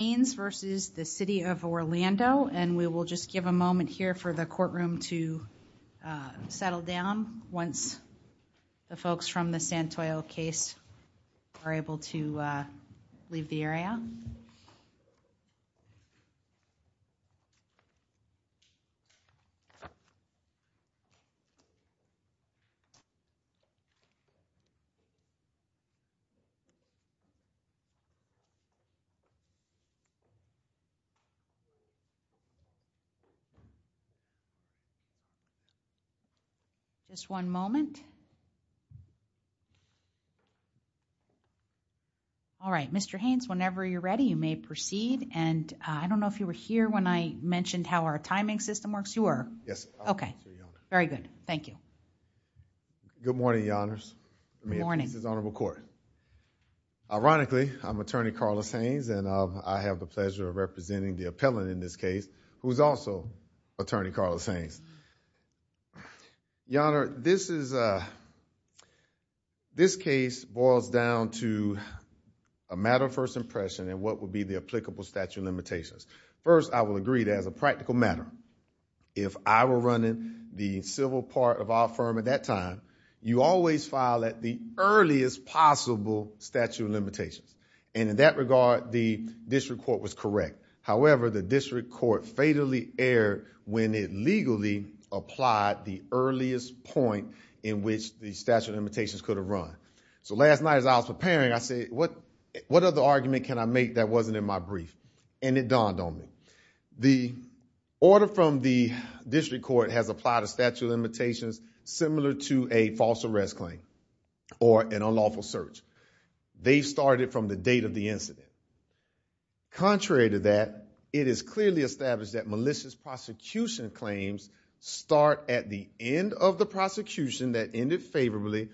and we will just give a moment here for the courtroom to settle down once the folks from the Santoyo case are able to leave the area. All right, Mr. Haynes, whenever you're ready, you may proceed and I don't know if you were here when I mentioned how our timing system works. You were? Yes. Okay. Very good. Thank you. Good morning, Your Honors. Good morning. This is the Honorable Court. Ironically, I'm Attorney Carlos Haynes and I have the pleasure of representing the appellant in this case who is also Attorney Carlos Haynes. Your Honor, this case boils down to a matter of first impression and what would be the applicable statute of limitations. First, I will agree that as a practical matter, if I were running the civil part of our firm at that time, you always file at the earliest possible statute of limitations and in that regard, the district court was correct. However, the district court fatally erred when it legally applied the earliest point in which the statute of limitations could have run. Last night as I was preparing, I said, what other argument can I make that wasn't in my brief and it dawned on me. The order from the district court has applied a statute of limitations similar to a false arrest claim or an unlawful search. They started from the date of the incident. Contrary to that, it is clearly established that malicious prosecution claims start at the end of the prosecution that ended favorably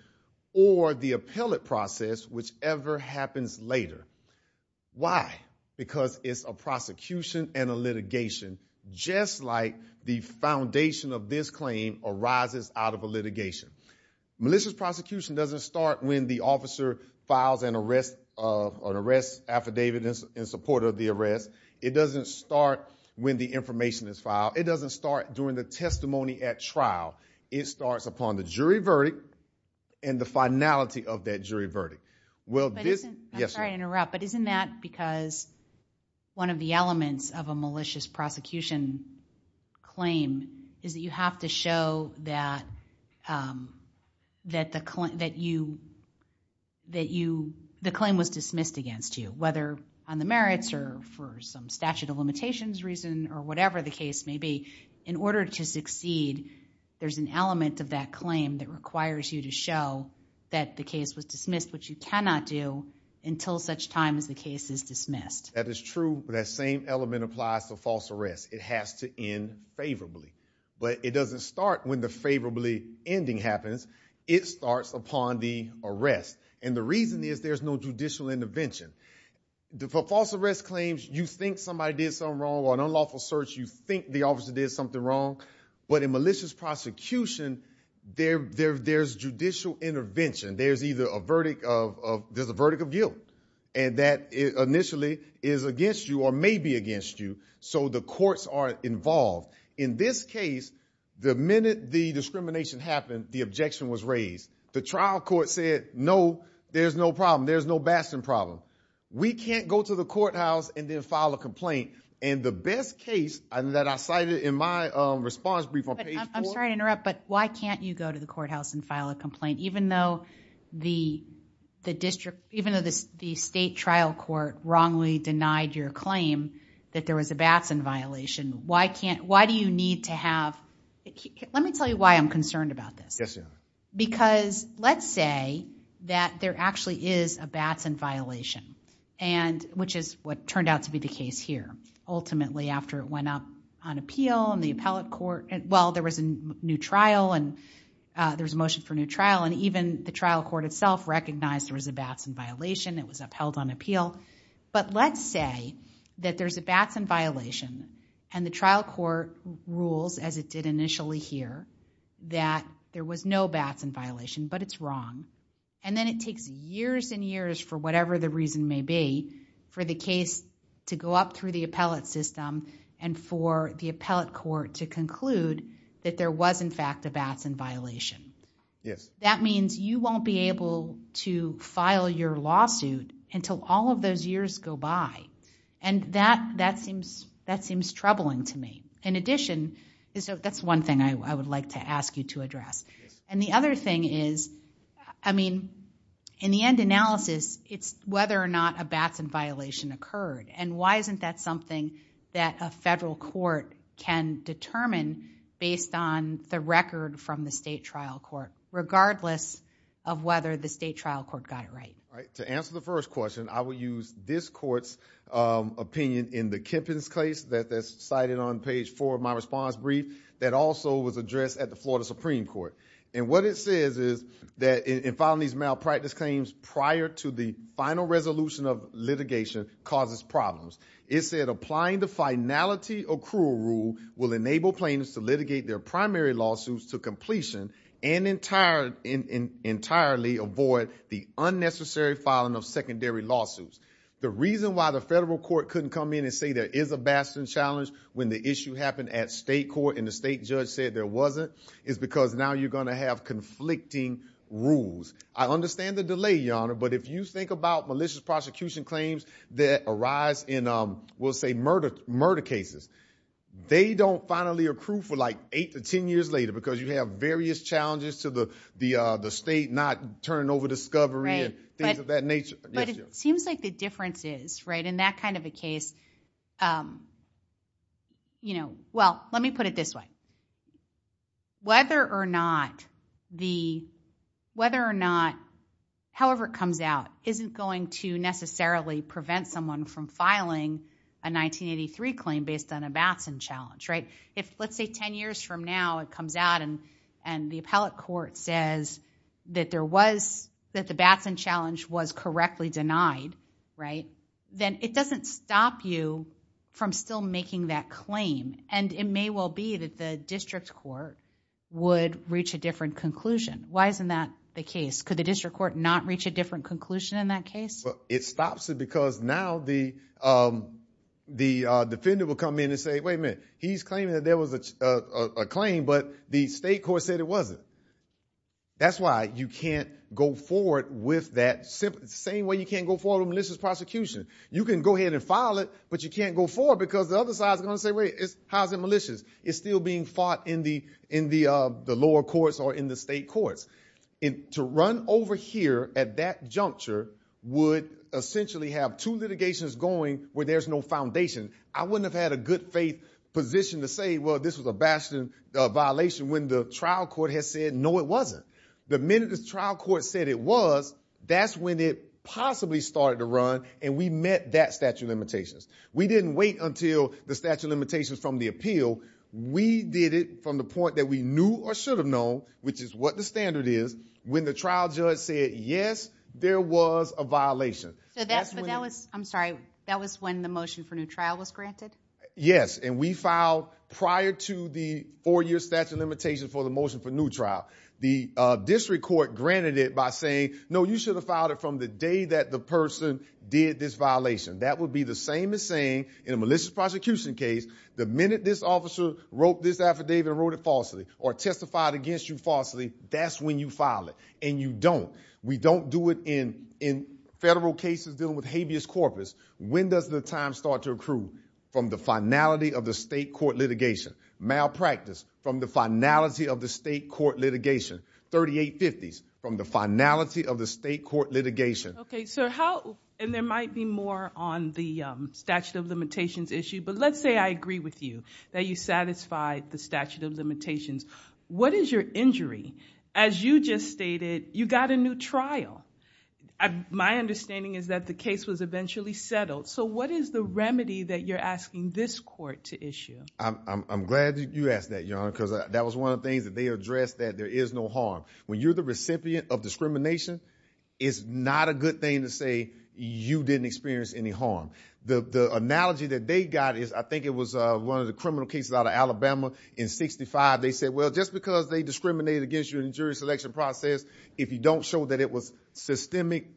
or the appellate process, whichever happens later. Why? Because it's a prosecution and a litigation just like the foundation of this claim arises out of a litigation. Malicious prosecution doesn't start when the officer files an arrest affidavit in support of the arrest. It doesn't start when the information is filed. It doesn't start during the testimony at trial. It starts upon the jury verdict and the finality of that jury verdict. I'm sorry to interrupt, but isn't that because one of the elements of a malicious prosecution claim is that you have to show that the claim was dismissed against you, whether on the merits or for some statute of limitations reason or whatever the case may be. In order to succeed, there's an element of that claim that requires you to show that the case was dismissed, which you cannot do until such time as the case is dismissed. That is true. That same element applies to false arrest. It has to end favorably, but it doesn't start when the favorably ending happens. It starts upon the arrest, and the reason is there's no judicial intervention. False arrest claims, you think somebody did something wrong or an unlawful search. You think the officer did something wrong, but in malicious prosecution, there's judicial intervention. There's a verdict of guilt, and that initially is against you or may be against you, so the courts are involved. In this case, the minute the discrimination happened, the objection was raised. The trial court said, no, there's no problem. There's no bastard problem. We can't go to the courthouse and then file a complaint, and the best case that I cited in my response brief on page four- Even though the state trial court wrongly denied your claim that there was a Batson violation, why do you need to have... Let me tell you why I'm concerned about this. Because let's say that there actually is a Batson violation, which is what turned out to be the case here. Ultimately, after it went up on appeal and the appellate court... Well, there was a motion for new trial, and even the trial court itself recognized there was a Batson violation. It was upheld on appeal. But let's say that there's a Batson violation, and the trial court rules as it did initially here that there was no Batson violation, but it's wrong, and then it takes years and years for whatever the reason may be for the case to go up through the appellate system and for the appellate court to conclude that there was, in fact, a Batson violation. That means you won't be able to file your lawsuit until all of those years go by. That seems troubling to me. In addition, that's one thing I would like to ask you to address. The other thing is, in the end analysis, it's whether or not a Batson violation occurred, and why isn't that something that a federal court can determine based on the record from the state trial court, regardless of whether the state trial court got it right? To answer the first question, I will use this court's opinion in the Kempens case that's cited on page four of my response brief that also was addressed at the Florida Supreme Court. What it says is that in filing these malpractice claims prior to the final resolution of litigation causes problems. It said applying the finality accrual rule will enable plaintiffs to litigate their primary lawsuits to completion and entirely avoid the unnecessary filing of secondary lawsuits. The reason why the federal court couldn't come in and say there is a Batson challenge when the issue happened at state court and the state judge said there wasn't is because now you're going to have conflicting rules. I understand the delay, Your Honor, but if you think about malicious prosecution claims that arise in, we'll say, murder cases, they don't finally accrue for like eight to ten years later because you have various challenges to the state not turning over discovery and things of that nature. Yes, Your Honor. But it seems like the difference is, in that kind of a case, well, let me put it this way. Whether or not, however it comes out, isn't going to necessarily prevent someone from filing a 1983 claim based on a Batson challenge. If let's say ten years from now it comes out and the appellate court says that the Batson challenge was correctly denied, then it doesn't stop you from still making that claim. And it may well be that the district court would reach a different conclusion. Why isn't that the case? Could the district court not reach a different conclusion in that case? It stops it because now the defendant will come in and say, wait a minute, he's claiming that there was a claim, but the state court said it wasn't. That's why you can't go forward with that same way you can't go forward with a malicious prosecution. You can go ahead and file it, but you can't go forward because the other side is going to say, wait, how is it malicious? It's still being fought in the lower courts or in the state courts. To run over here at that juncture would essentially have two litigations going where there's no foundation. I wouldn't have had a good faith position to say, well, this was a Batson violation when the trial court has said, no, it wasn't. The minute the trial court said it was, that's when it possibly started to run and we met that statute of limitations. We didn't wait until the statute of limitations from the appeal. We did it from the point that we knew or should have known, which is what the standard is, when the trial judge said, yes, there was a violation. I'm sorry. That was when the motion for new trial was granted? Yes. We filed prior to the four-year statute of limitations for the motion for new trial. The district court granted it by saying, no, you should have filed it from the day that the person did this violation. That would be the same as saying, in a malicious prosecution case, the minute this officer wrote this affidavit and wrote it falsely or testified against you falsely, that's when you file it and you don't. We don't do it in federal cases dealing with habeas corpus. When does the time start to accrue? From the finality of the state court litigation, malpractice, from the finality of the state court litigation, 3850s, from the finality of the state court litigation. There might be more on the statute of limitations issue, but let's say I agree with you, that you satisfied the statute of limitations. What is your injury? As you just stated, you got a new trial. My understanding is that the case was eventually settled. What is the remedy that you're asking this court to issue? I'm glad that you asked that, Your Honor, because that was one of the things that they addressed, that there is no harm. When you're the recipient of discrimination, it's not a good thing to say, you didn't experience any harm. The analogy that they got is, I think it was one of the criminal cases out of Alabama in 65, they said, well, just because they discriminated against you in the jury selection process, if you don't show that it was systemic,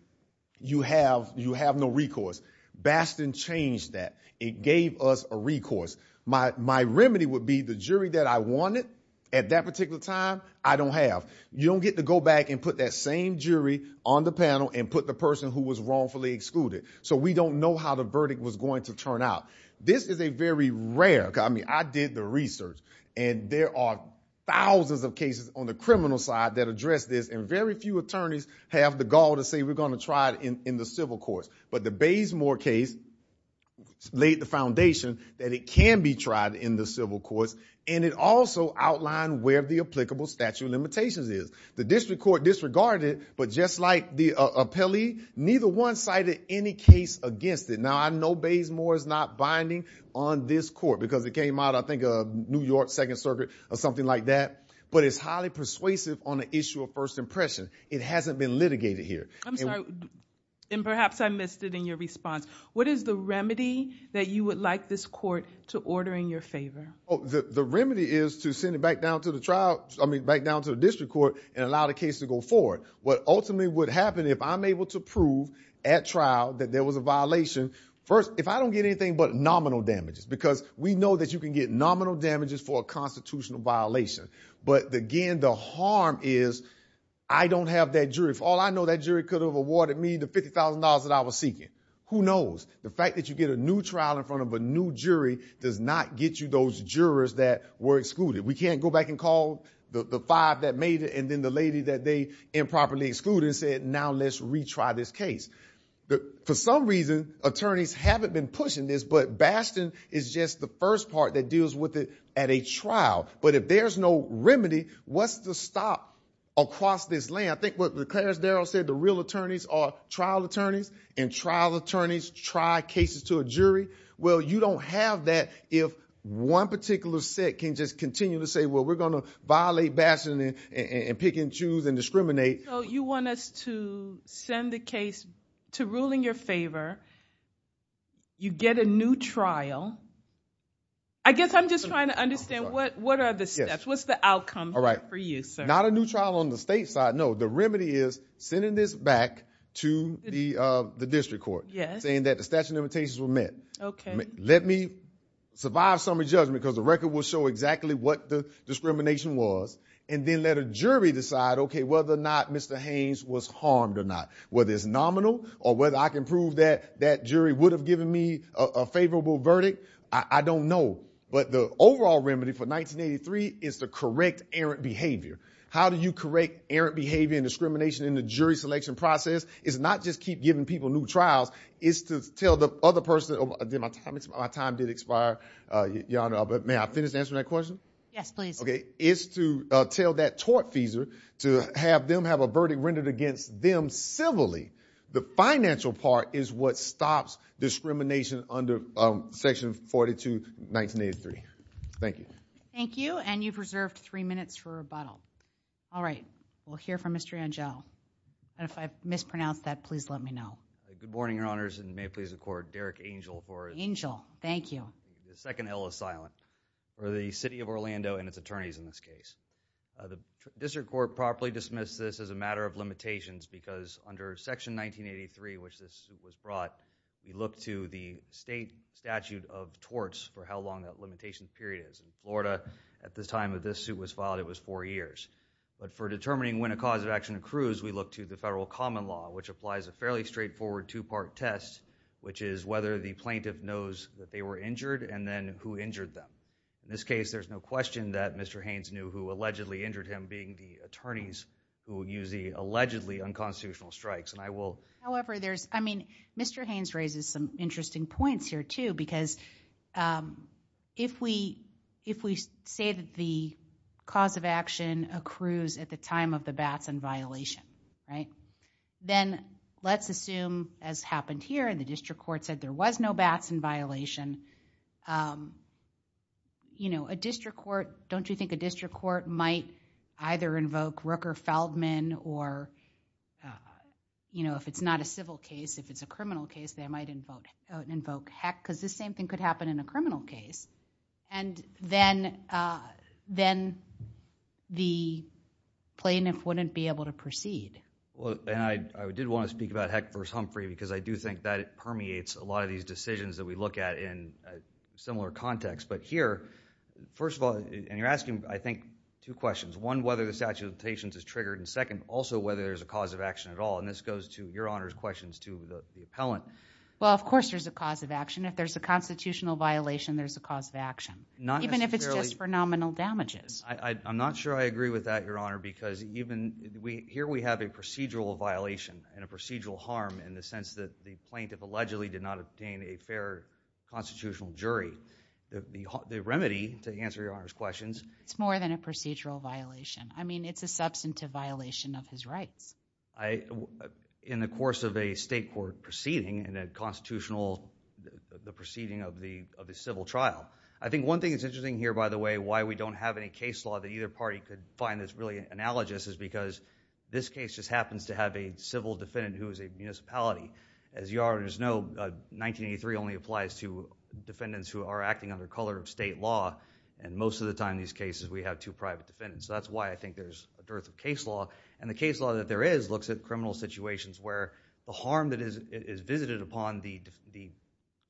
you have no recourse. Bastion changed that. It gave us a recourse. My remedy would be, the jury that I wanted at that particular time, I don't have. You don't get to go back and put that same jury on the panel and put the person who was wrongfully excluded. We don't know how the verdict was going to turn out. This is a very rare... I did the research, and there are thousands of cases on the criminal side that address this, and very few attorneys have the gall to say, we're going to try it in the civil courts. The Bazemore case laid the foundation that it can be tried in the civil courts, and it also outlined where the applicable statute of limitations is. The district court disregarded it, but just like the appellee, neither one cited any case against it. Now, I know Bazemore is not binding on this court, because it came out, I think, of New York Second Circuit, or something like that, but it's highly persuasive on the issue of first impression. It hasn't been litigated here. I'm sorry, and perhaps I missed it in your response. What is the remedy that you would like this court to order in your favor? The remedy is to send it back down to the district court and allow the case to go forward. What ultimately would happen, if I'm able to prove at trial that there was a violation... First, if I don't get anything but nominal damages, because we know that you can get nominal damages for a constitutional violation, but again, the harm is I don't have that jury. If all I know, that jury could have awarded me the $50,000 that I was seeking. Who knows? The fact that you get a new trial in front of a new jury does not get you those jurors that were excluded. We can't go back and call the five that made it, and then the lady that they improperly excluded and said, now let's retry this case. For some reason, attorneys haven't been pushing this, but Baston is just the first part that deals with it at a trial, but if there's no remedy, what's the stop across this land? I think what Clarence Darrow said, the real attorneys are trial attorneys, and trial attorneys try cases to a jury. You don't have that if one particular set can just continue to say, well, we're going to violate Baston and pick and choose and discriminate. You want us to send the case to ruling your favor. You get a new trial. I guess I'm just trying to understand, what are the steps? What's the outcome for you, sir? Not a new trial on the state side. No, the remedy is sending this back to the district court, saying that the statute of limitations were met. Let me survive summary judgment, because the record will show exactly what the discrimination was, and then let a jury decide whether or not Mr. Haynes was harmed or not, whether it's nominal or whether I can prove that that jury would have given me a favorable verdict. I don't know, but the overall remedy for 1983 is to correct errant behavior. How do you correct errant behavior and discrimination in the jury selection process is not just keep giving people new trials, it's to tell the other person, my time did expire, but may I finish answering that question? Yes, please. It's to tell that tortfeasor to have them have a verdict rendered against them civilly. The financial part is what stops discrimination under section 42, 1983. Thank you. Thank you, and you've reserved three minutes for rebuttal. All right. We'll hear from Mr. Angell, and if I've mispronounced that, please let me know. Good morning, your honors, and may it please the court, Derek Angell for his- Angell. Thank you. The second hill is silent, for the city of Orlando and its attorneys in this case. The district court properly dismissed this as a matter of limitations, because under section 1983, which this suit was brought, you look to the state statute of torts for how long that limitation period is. In Florida, at the time that this suit was filed, it was four years, but for determining when a cause of action accrues, we look to the federal common law, which applies a fairly straightforward two-part test, which is whether the plaintiff knows that they were injured, and then who injured them. In this case, there's no question that Mr. Haynes knew who allegedly injured him, being the attorneys who use the allegedly unconstitutional strikes, and I will- Mr. Haynes raises some interesting points here, too, because if we say that the cause of action accrues at the time of the bats in violation, then let's assume, as happened here, and the district court said there was no bats in violation, don't you think a district court might either invoke Rooker-Feldman, or if it's not a civil case, if it's a criminal case, they might invoke Heck, because the same thing could happen in a criminal case, and then the plaintiff wouldn't be able to proceed? I did want to speak about Heck versus Humphrey, because I do think that it permeates a lot of these decisions that we look at in a similar context, but here, first of all, and you're right, two questions. One, whether the statute of limitations is triggered, and second, also whether there's a cause of action at all, and this goes to Your Honor's questions to the appellant. Well, of course there's a cause of action. If there's a constitutional violation, there's a cause of action, even if it's just for nominal damages. I'm not sure I agree with that, Your Honor, because here we have a procedural violation and a procedural harm in the sense that the plaintiff allegedly did not obtain a fair constitutional jury. The remedy, to answer Your Honor's questions- It's more than a procedural violation. I mean, it's a substantive violation of his rights. In the course of a state court proceeding, in a constitutional, the proceeding of the civil trial, I think one thing that's interesting here, by the way, why we don't have any case law that either party could find that's really analogous is because this case just happens to have a civil defendant who is a municipality. As Your Honor knows, 1983 only applies to defendants who are acting under color of state law, and most of the time in these cases we have two private defendants, so that's why I think there's a dearth of case law. The case law that there is looks at criminal situations where the harm that is visited upon the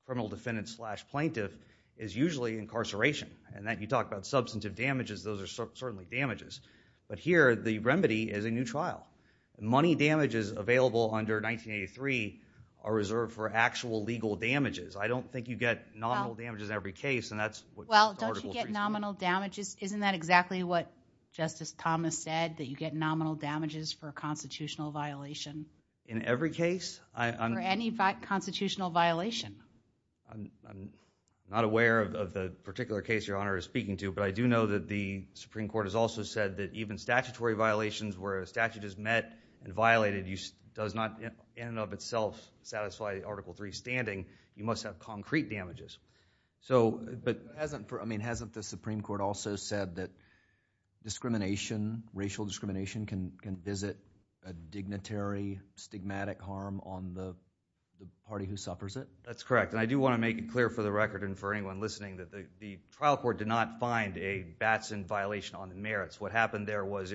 criminal defendant slash plaintiff is usually incarceration. You talk about substantive damages, those are certainly damages, but here the remedy is a new trial. Money damages available under 1983 are reserved for actual legal damages. I don't think you get nominal damages in every case, and that's what Article 3 says. Well, don't you get nominal damages? Isn't that exactly what Justice Thomas said, that you get nominal damages for a constitutional violation? In every case? For any constitutional violation. I'm not aware of the particular case Your Honor is speaking to, but I do know that the Supreme Court has also said that even statutory violations where a statute is met and violated does not in and of itself satisfy Article 3 standing, you must have concrete damages. But hasn't the Supreme Court also said that discrimination, racial discrimination, can visit a dignitary, stigmatic harm on the party who suffers it? That's correct, and I do want to make it clear for the record and for anyone listening that the trial court did not find a Batson violation on the merits. What happened there was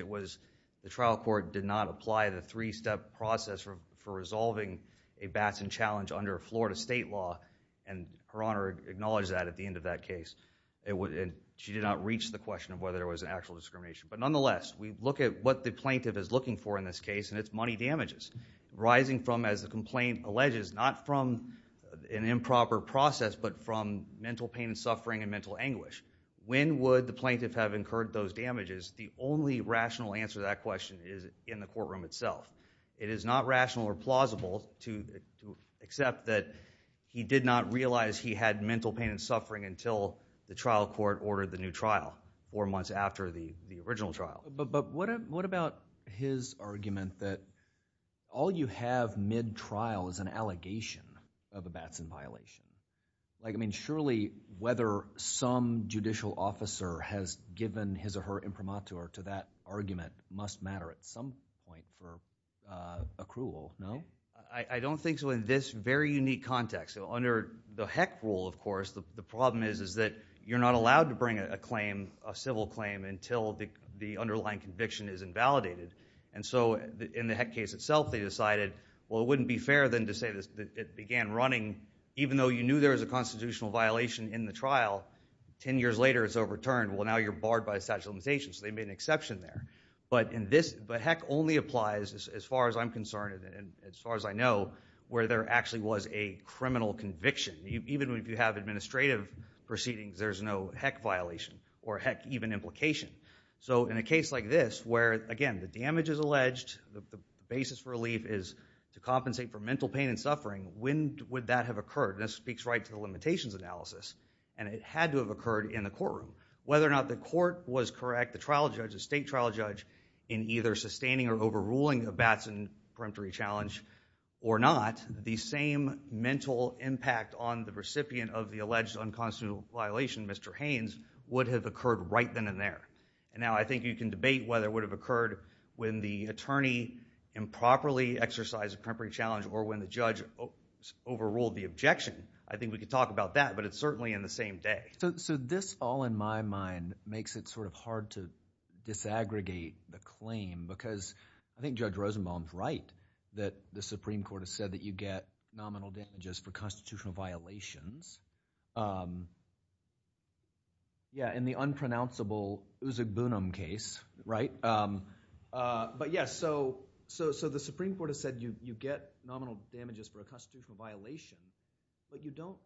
the trial court did not apply the three-step process for resolving a Batson challenge under Florida state law, and Her Honor acknowledged that at the end of that case. She did not reach the question of whether there was an actual discrimination. But nonetheless, we look at what the plaintiff is looking for in this case, and it's money damages arising from, as the complaint alleges, not from an improper process, but from mental pain and suffering and mental anguish. When would the plaintiff have incurred those damages? The only rational answer to that question is in the courtroom itself. It is not rational or plausible to accept that he did not realize he had mental pain and suffering until the trial court ordered the new trial, four months after the original trial. What about his argument that all you have mid-trial is an allegation of a Batson violation? Surely, whether some judicial officer has given his or her imprimatur to that argument must matter at some point for accrual, no? I don't think so in this very unique context. Under the Heck rule, of course, the problem is that you're not allowed to bring a claim, a civil claim, until the underlying conviction is invalidated. In the Heck case itself, they decided it wouldn't be fair then to say that it began running even though you knew there was a constitutional violation in the trial, 10 years later it's overturned. Well, now you're barred by a statute of limitations, so they made an exception there. But Heck only applies, as far as I'm concerned and as far as I know, where there actually was a criminal conviction. Even if you have administrative proceedings, there's no Heck violation or Heck even implication. In a case like this where, again, the damage is alleged, the basis for relief is to compensate for mental pain and suffering, when would that have occurred? This speaks right to the limitations analysis, and it had to have occurred in the courtroom. Whether or not the court was correct, the trial judge, the state trial judge, in either sustaining or overruling of Batson's preemptory challenge or not, the same mental impact on the recipient of the alleged unconstitutional violation, Mr. Haynes, would have occurred right then and there. And now, I think you can debate whether it would have occurred when the attorney improperly exercised a preemptory challenge or when the judge overruled the objection. I think we could talk about that, but it's certainly in the same day. So this, all in my mind, makes it sort of hard to disaggregate the claim because I think Judge Rosenbaum's right that the Supreme Court has said that you get nominal damages for constitutional violations. Yeah, in the unpronounceable Uzugbunum case, right? But yeah, so the Supreme Court has said you get nominal damages for a constitutional violation, but you don't,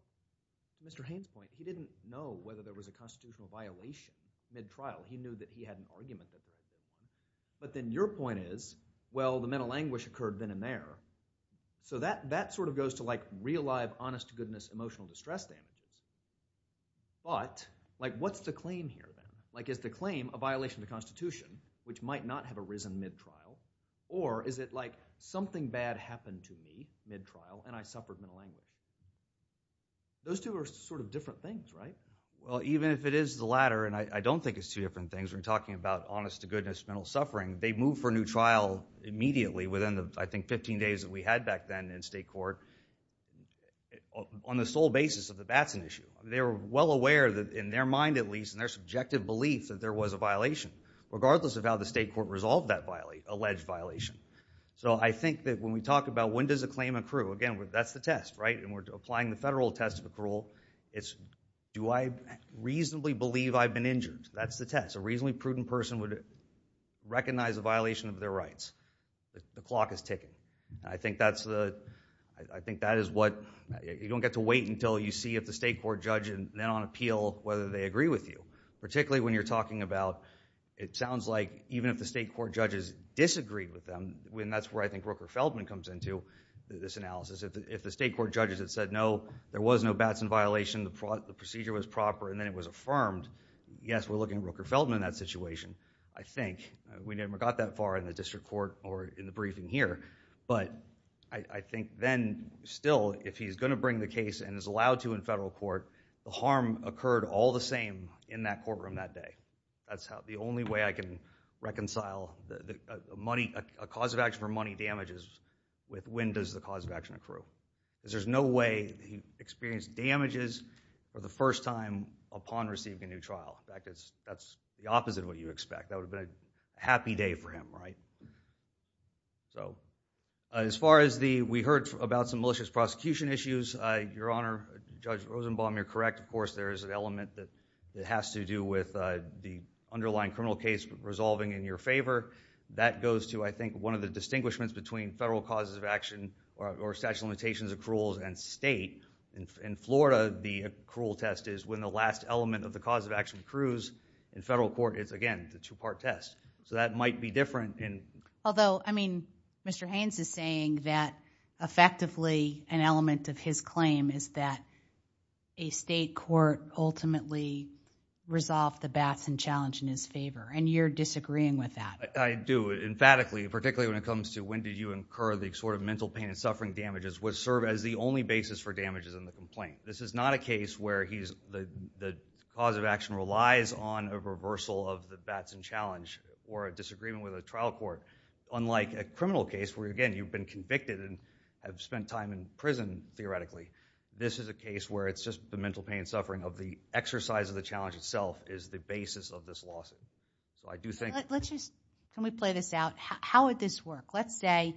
Mr. Haynes' point, he didn't know whether there was a constitutional violation mid-trial. He knew that he had an argument that he had. But then your point is, well, the mental anguish occurred then and there. So that sort of goes to like real-life honest-to-goodness emotional distress damage, but what's the claim here? Like is the claim a violation of the Constitution, which might not have arisen mid-trial, or is it like something bad happened to me mid-trial and I suffered mental anguish? Those two are sort of different things, right? Well, even if it is the latter, and I don't think it's two different things when talking about honest-to-goodness mental suffering, they move for a new trial immediately within the, I think, 15 days that we had back then in state court on the sole basis of that that's an issue. They were well aware that, in their mind at least, in their subjective beliefs, that there was a violation, regardless of how the state court resolved that alleged violation. So I think that when we talk about when does a claim accrue, again, that's the test, right? And we're applying the federal test of accrual, it's do I reasonably believe I've been injured? That's the test. A reasonably prudent person would recognize a violation of their rights. The clock is ticking. I think that's the, I think that is what, you don't get to wait until you see if the state court judge, and then on appeal, whether they agree with you. Particularly when you're talking about, it sounds like even if the state court judges disagree with them, and that's where I think Rooker-Feldman comes into this analysis, if the state court judges had said, no, there was no Batson violation, the procedure was proper and then it was affirmed, yes, we're looking at Rooker-Feldman in that situation, I think. We never got that far in the district court or in the briefing here. But I think then, still, if he's going to bring the case and is allowed to in federal court, the harm occurred all the same in that courtroom that day. That's the only way I can reconcile a cause of action for money damages with when does the cause of action accrue. Because there's no way he experienced damages for the first time upon receiving a new trial. That's the opposite of what you expect, that would have been a happy day for him, right? So, as far as the, we heard about some malicious prosecution issues, Your Honor, Judge Rosenbaum, you're correct, of course, there is an element that has to do with the underlying criminal case resolving in your favor. That goes to, I think, one of the distinguishments between federal causes of action or statute of limitations accruals and state. In Florida, the accrual test is when the last element of the cause of action accrues in federal court. It's, again, the two-part test. So, that might be different in- Although, I mean, Mr. Haynes is saying that, effectively, an element of his claim is that a state court ultimately resolved the Batson challenge in his favor, and you're disagreeing with that. I do, emphatically, particularly when it comes to when do you incur the sort of mental pain and suffering damages would serve as the only basis for damages in the complaint. This is not a case where he's, the cause of action relies on a reversal of the Batson challenge or a disagreement with a trial court, unlike a criminal case where, again, you've been convicted and have spent time in prison, theoretically. This is a case where it's just the mental pain and suffering of the exercise of the challenge itself is the basis of this lawsuit. So, I do think- Let's just, can we play this out? How would this work? Let's say,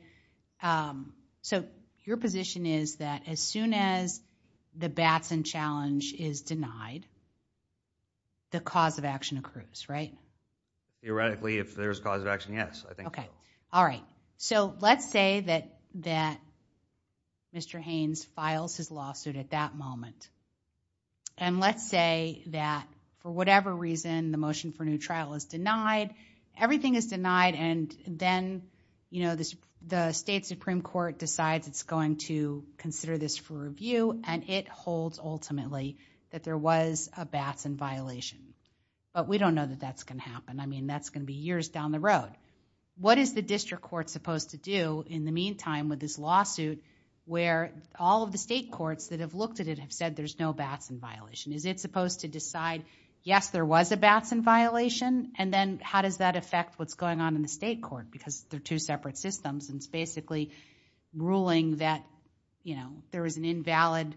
so, your position is that as soon as the Batson challenge is denied, the cause of action accrues, right? Theoretically, if there's cause of action, yes, I think so. Okay. All right. So, let's say that Mr. Haynes files his lawsuit at that moment, and let's say that, for whatever reason, the motion for new trial is denied, everything is denied, and then the state supreme court decides it's going to consider this for review, and it holds, ultimately, that there was a Batson violation, but we don't know that that's going to happen. I mean, that's going to be years down the road. What is the district court supposed to do in the meantime with this lawsuit where all of the state courts that have looked at it have said there's no Batson violation? Is it supposed to decide, yes, there was a Batson violation, and then how does that affect what's going on in the state court? Because they're two separate systems, and it's basically ruling that there was an invalid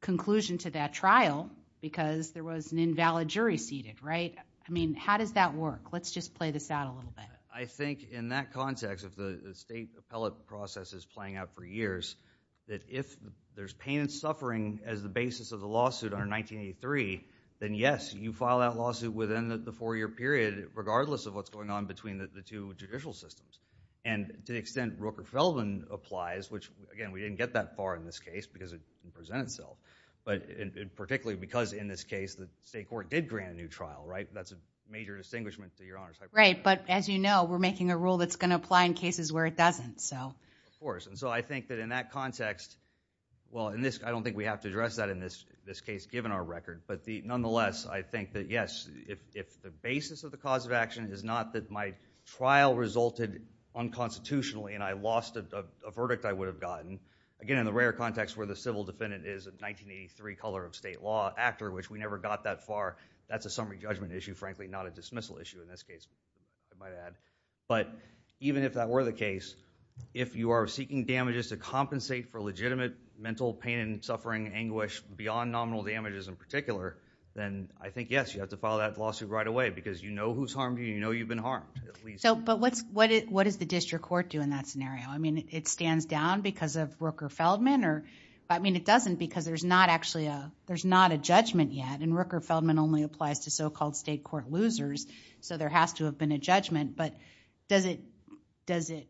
conclusion to that trial because there was an invalid jury seated, right? I mean, how does that work? Let's just play this out a little bit. I think, in that context, if the state appellate process is playing out for years, that if there's pain and suffering as the basis of the lawsuit under 1983, then yes, you file that lawsuit within the four-year period, regardless of what's going on between the two judicial systems, and to the extent Rooker-Feldman applies, which, again, we didn't get that far in this case because it didn't present itself, but particularly because, in this case, the state court did grant a new trial, right? That's a major distinguishment to Your Honor's hypothesis. Right, but as you know, we're making a rule that's going to apply in cases where it doesn't, so. Of course, and so I think that, in that context, well, I don't think we have to address that in this case, given our record, but nonetheless, I think that, yes, if the basis of the cause of action is not that my trial resulted unconstitutionally and I lost a verdict I would have gotten, again, in the rare context where the civil defendant is a 1983 color of state law actor, which we never got that far, that's a summary judgment issue, frankly, not a dismissal issue in this case, I might add, but even if that were the case, if you are seeking damages to compensate for legitimate mental pain and suffering, anguish, beyond nominal damages in particular, then I think, yes, you have to file that lawsuit right away because you know who's harmed you, you know you've been harmed, at least. So, but what does the district court do in that scenario? I mean, it stands down because of Rooker-Feldman or, I mean, it doesn't because there's not actually a, there's not a judgment yet and Rooker-Feldman only applies to so-called state court losers, so there has to have been a judgment, but does it, does it,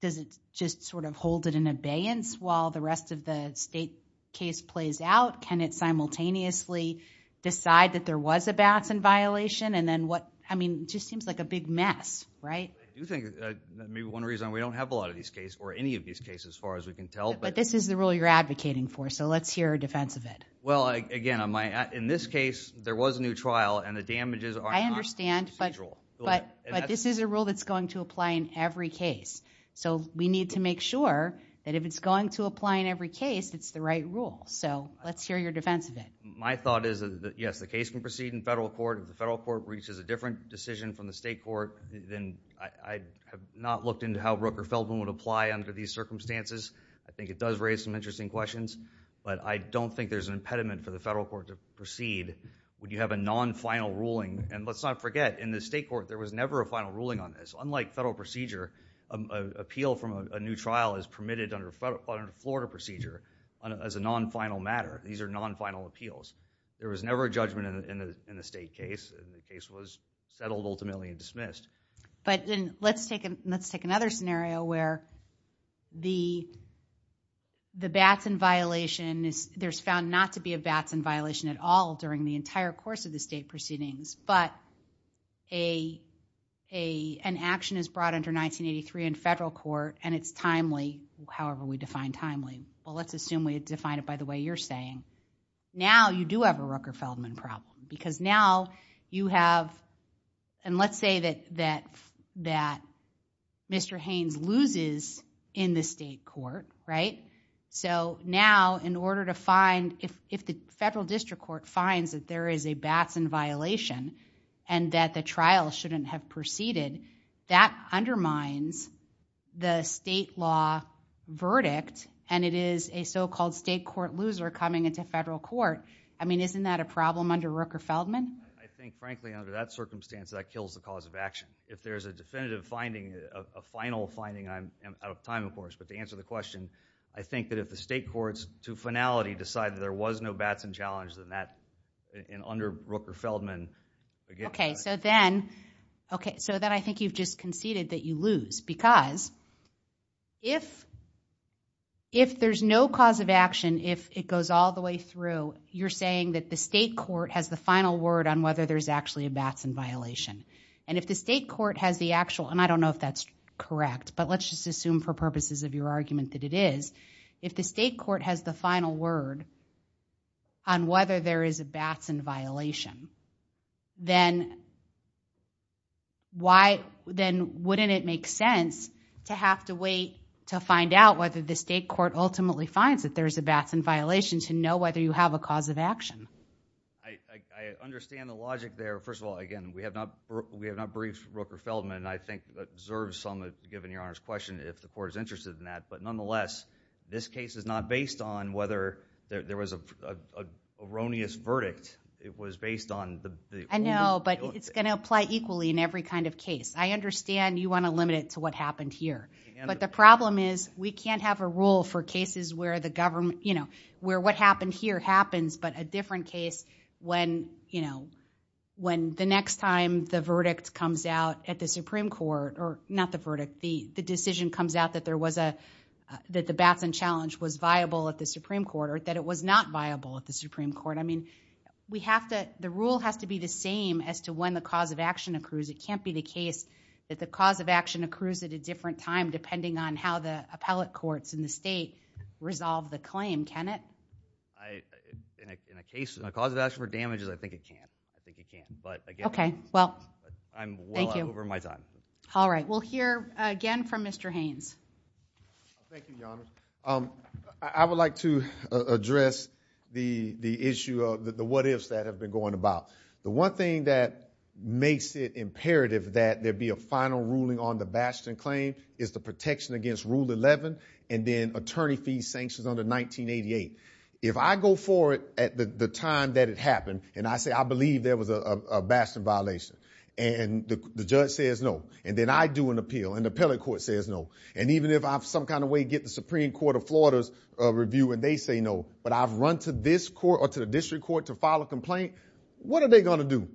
does it just sort of hold it in abeyance while the rest of the state case plays out? Can it simultaneously decide that there was a balance in violation and then what, I mean, just seems like a big mess, right? I do think that maybe one reason we don't have a lot of these cases, or any of these cases as far as we can tell, but. But this is the rule you're advocating for, so let's hear a defense of it. Well, again, I might add, in this case, there was a new trial and the damages are not procedural. I understand, but, but, but this is a rule that's going to apply in every case, so we need to make sure that if it's going to apply in every case, it's the right rule, so let's hear your defense of it. My thought is that, yes, the case can proceed in federal court, if the federal court reaches a different decision from the state court, then I, I have not looked into how Rook or Feldman would apply under these circumstances, I think it does raise some interesting questions, but I don't think there's an impediment for the federal court to proceed when you have a non-final ruling, and let's not forget, in the state court, there was never a final ruling on this. Unlike federal procedure, a, a, appeal from a, a new trial is permitted under fed, under Florida procedure on, as a non-final matter, these are non-final appeals. There was never a judgment in a, in a, in a state case, and the case was settled ultimately and dismissed. But, and, let's take a, let's take another scenario where the, the Batson violation is, there's found not to be a Batson violation at all during the entire course of the state proceedings, but a, a, an action is brought under 1983 in federal court, and it's timely, however we define timely, well, let's assume we define it by the way you're saying. Now, you do have a Rucker-Feldman problem, because now you have, and let's say that, that, that Mr. Haynes loses in the state court, right? So now, in order to find, if, if the federal district court finds that there is a Batson violation and that the trial shouldn't have proceeded, that undermines the state law verdict and it is a so-called state court loser coming into federal court, I mean, isn't that a problem under Rucker-Feldman? I think, frankly, under that circumstance, that kills the cause of action. If there's a definitive finding, a final finding, I'm out of time, of course, but to answer the question, I think that if the state courts, to finality, decide that there was no Batson challenge, then that, in, under Rucker-Feldman, would get rid of that. Okay, so then, okay, so then I think you've just conceded that you lose, because if, if there's no cause of action, if it goes all the way through, you're saying that the state court has the final word on whether there's actually a Batson violation. And if the state court has the actual, and I don't know if that's correct, but let's just assume for purposes of your argument that it is, if the state court has the final word on whether there is a Batson violation, then why, then wouldn't it make sense to have to wait to find out whether the state court ultimately finds that there's a Batson violation to know whether you have a cause of action? I, I, I understand the logic there, first of all, again, we have not, we have not briefed Rucker-Feldman, and I think that deserves some, given your Honor's question, if the state court, there, there was a, a erroneous verdict, it was based on the, the, the, the I know, but it's going to apply equally in every kind of case. I understand you want to limit it to what happened here, but the problem is we can't have a rule for cases where the government, you know, where what happened here happens, but a different case when, you know, when the next time the verdict comes out at the Supreme Court, or not the verdict, the, the decision comes out that there was a, that the Batson challenge was viable at the Supreme Court, or that it was not viable at the Supreme Court. I mean, we have to, the rule has to be the same as to when the cause of action accrues. It can't be the case that the cause of action accrues at a different time, depending on how the appellate courts in the state resolve the claim, can it? I, in a, in a case, a cause of action for damages, I think it can, I think it can, but again, Okay, well, I'm well over my time. Thank you. All right. We'll hear again from Mr. Haynes. Thank you, Your Honor. I would like to address the, the issue of the what ifs that have been going about. The one thing that makes it imperative that there be a final ruling on the Batson claim is the protection against Rule 11, and then attorney fees sanctions under 1988. If I go forward at the time that it happened, and I say, I believe there was a Batson violation, and the judge says no, and then I do an appeal, and the appellate court says no, and even if I have some kind of way to get the Supreme Court of Florida's review, and they say no, but I've run to this court, or to the district court to file a complaint, what are they going to do?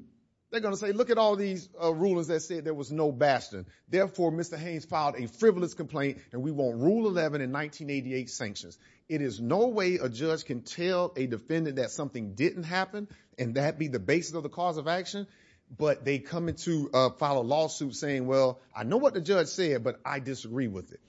They're going to say, look at all these rulers that said there was no Batson, therefore Mr. Haynes filed a frivolous complaint, and we want Rule 11 in 1988 sanctions. It is no way a judge can tell a defendant that something didn't happen, and that be the basis of the cause of action, but they come in to file a lawsuit saying, well, I know what the judge said, but I disagree with it.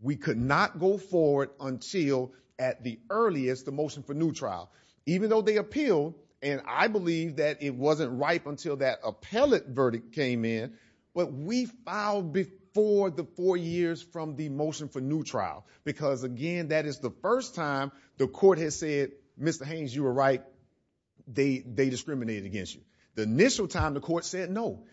We could not go forward until at the earliest, the motion for new trial. Even though they appealed, and I believe that it wasn't ripe until that appellate verdict came in, but we filed before the four years from the motion for new trial, because again, that is the first time the court has said, Mr. Haynes, you were right, they discriminated against you. The initial time the court said no.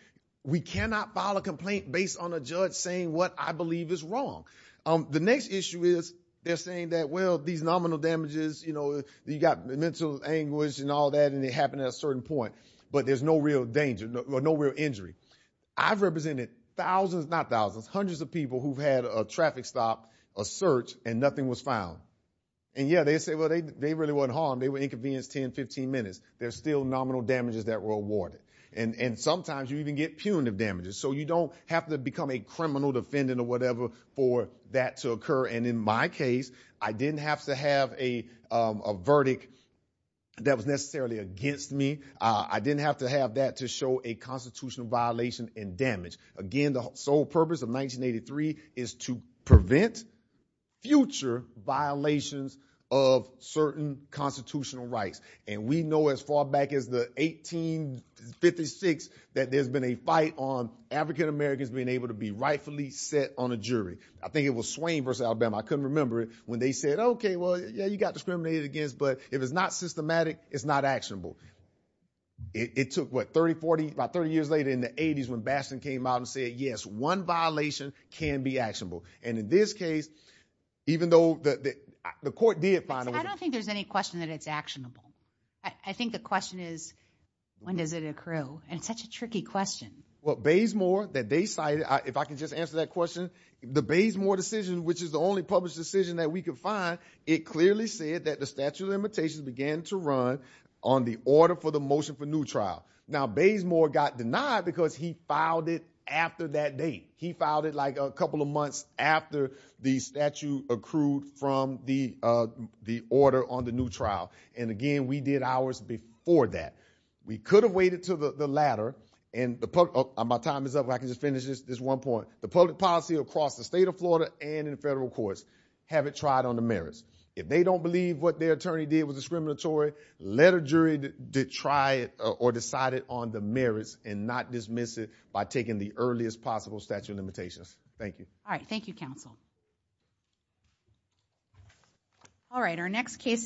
We cannot file a complaint based on a judge saying what I believe is wrong. The next issue is they're saying that, well, these nominal damages, you know, you got mental anguish and all that, and it happened at a certain point, but there's no real danger, no real injury. I've represented thousands, not thousands, hundreds of people who've had a traffic stop, a search, and nothing was found. And yeah, they say, well, they really wasn't harmed. They were inconvenienced 10, 15 minutes. There's still nominal damages that were awarded. And sometimes you even get punitive damages, so you don't have to become a criminal defendant or whatever for that to occur, and in my case, I didn't have to have a verdict that was necessarily against me. I didn't have to have that to show a constitutional violation and damage. Again, the sole purpose of 1983 is to prevent future violations of certain constitutional rights, and we know as far back as the 1856 that there's been a fight on African-Americans being able to be rightfully set on a jury. I think it was Swain v. Alabama, I couldn't remember it, when they said, okay, well, yeah, you got discriminated against, but if it's not systematic, it's not actionable. It took, what, 30, 40, about 30 years later in the 80s when Bastion came out and said, yes, one violation can be actionable. And in this case, even though the court did find a way to- I don't think there's any question that it's actionable. I think the question is, when does it accrue, and it's such a tricky question. Well, Baysmore, that they cited, if I can just answer that question, the Baysmore decision, which is the only published decision that we could find, it clearly said that the statute of limitations began to run on the order for the motion for new trial. Now, Baysmore got denied because he filed it after that date. He filed it like a couple of months after the statute accrued from the order on the new trial. And again, we did ours before that. We could have waited until the latter, and my time is up, but I can just finish this one point. The public policy across the state of Florida and in the federal courts haven't tried on the merits. If they don't believe what their attorney did was discriminatory, let a jury try it or decide it on the merits and not dismiss it by taking the earliest possible statute of limitations. Thank you. All right. Thank you, counsel. All right. Our next case is-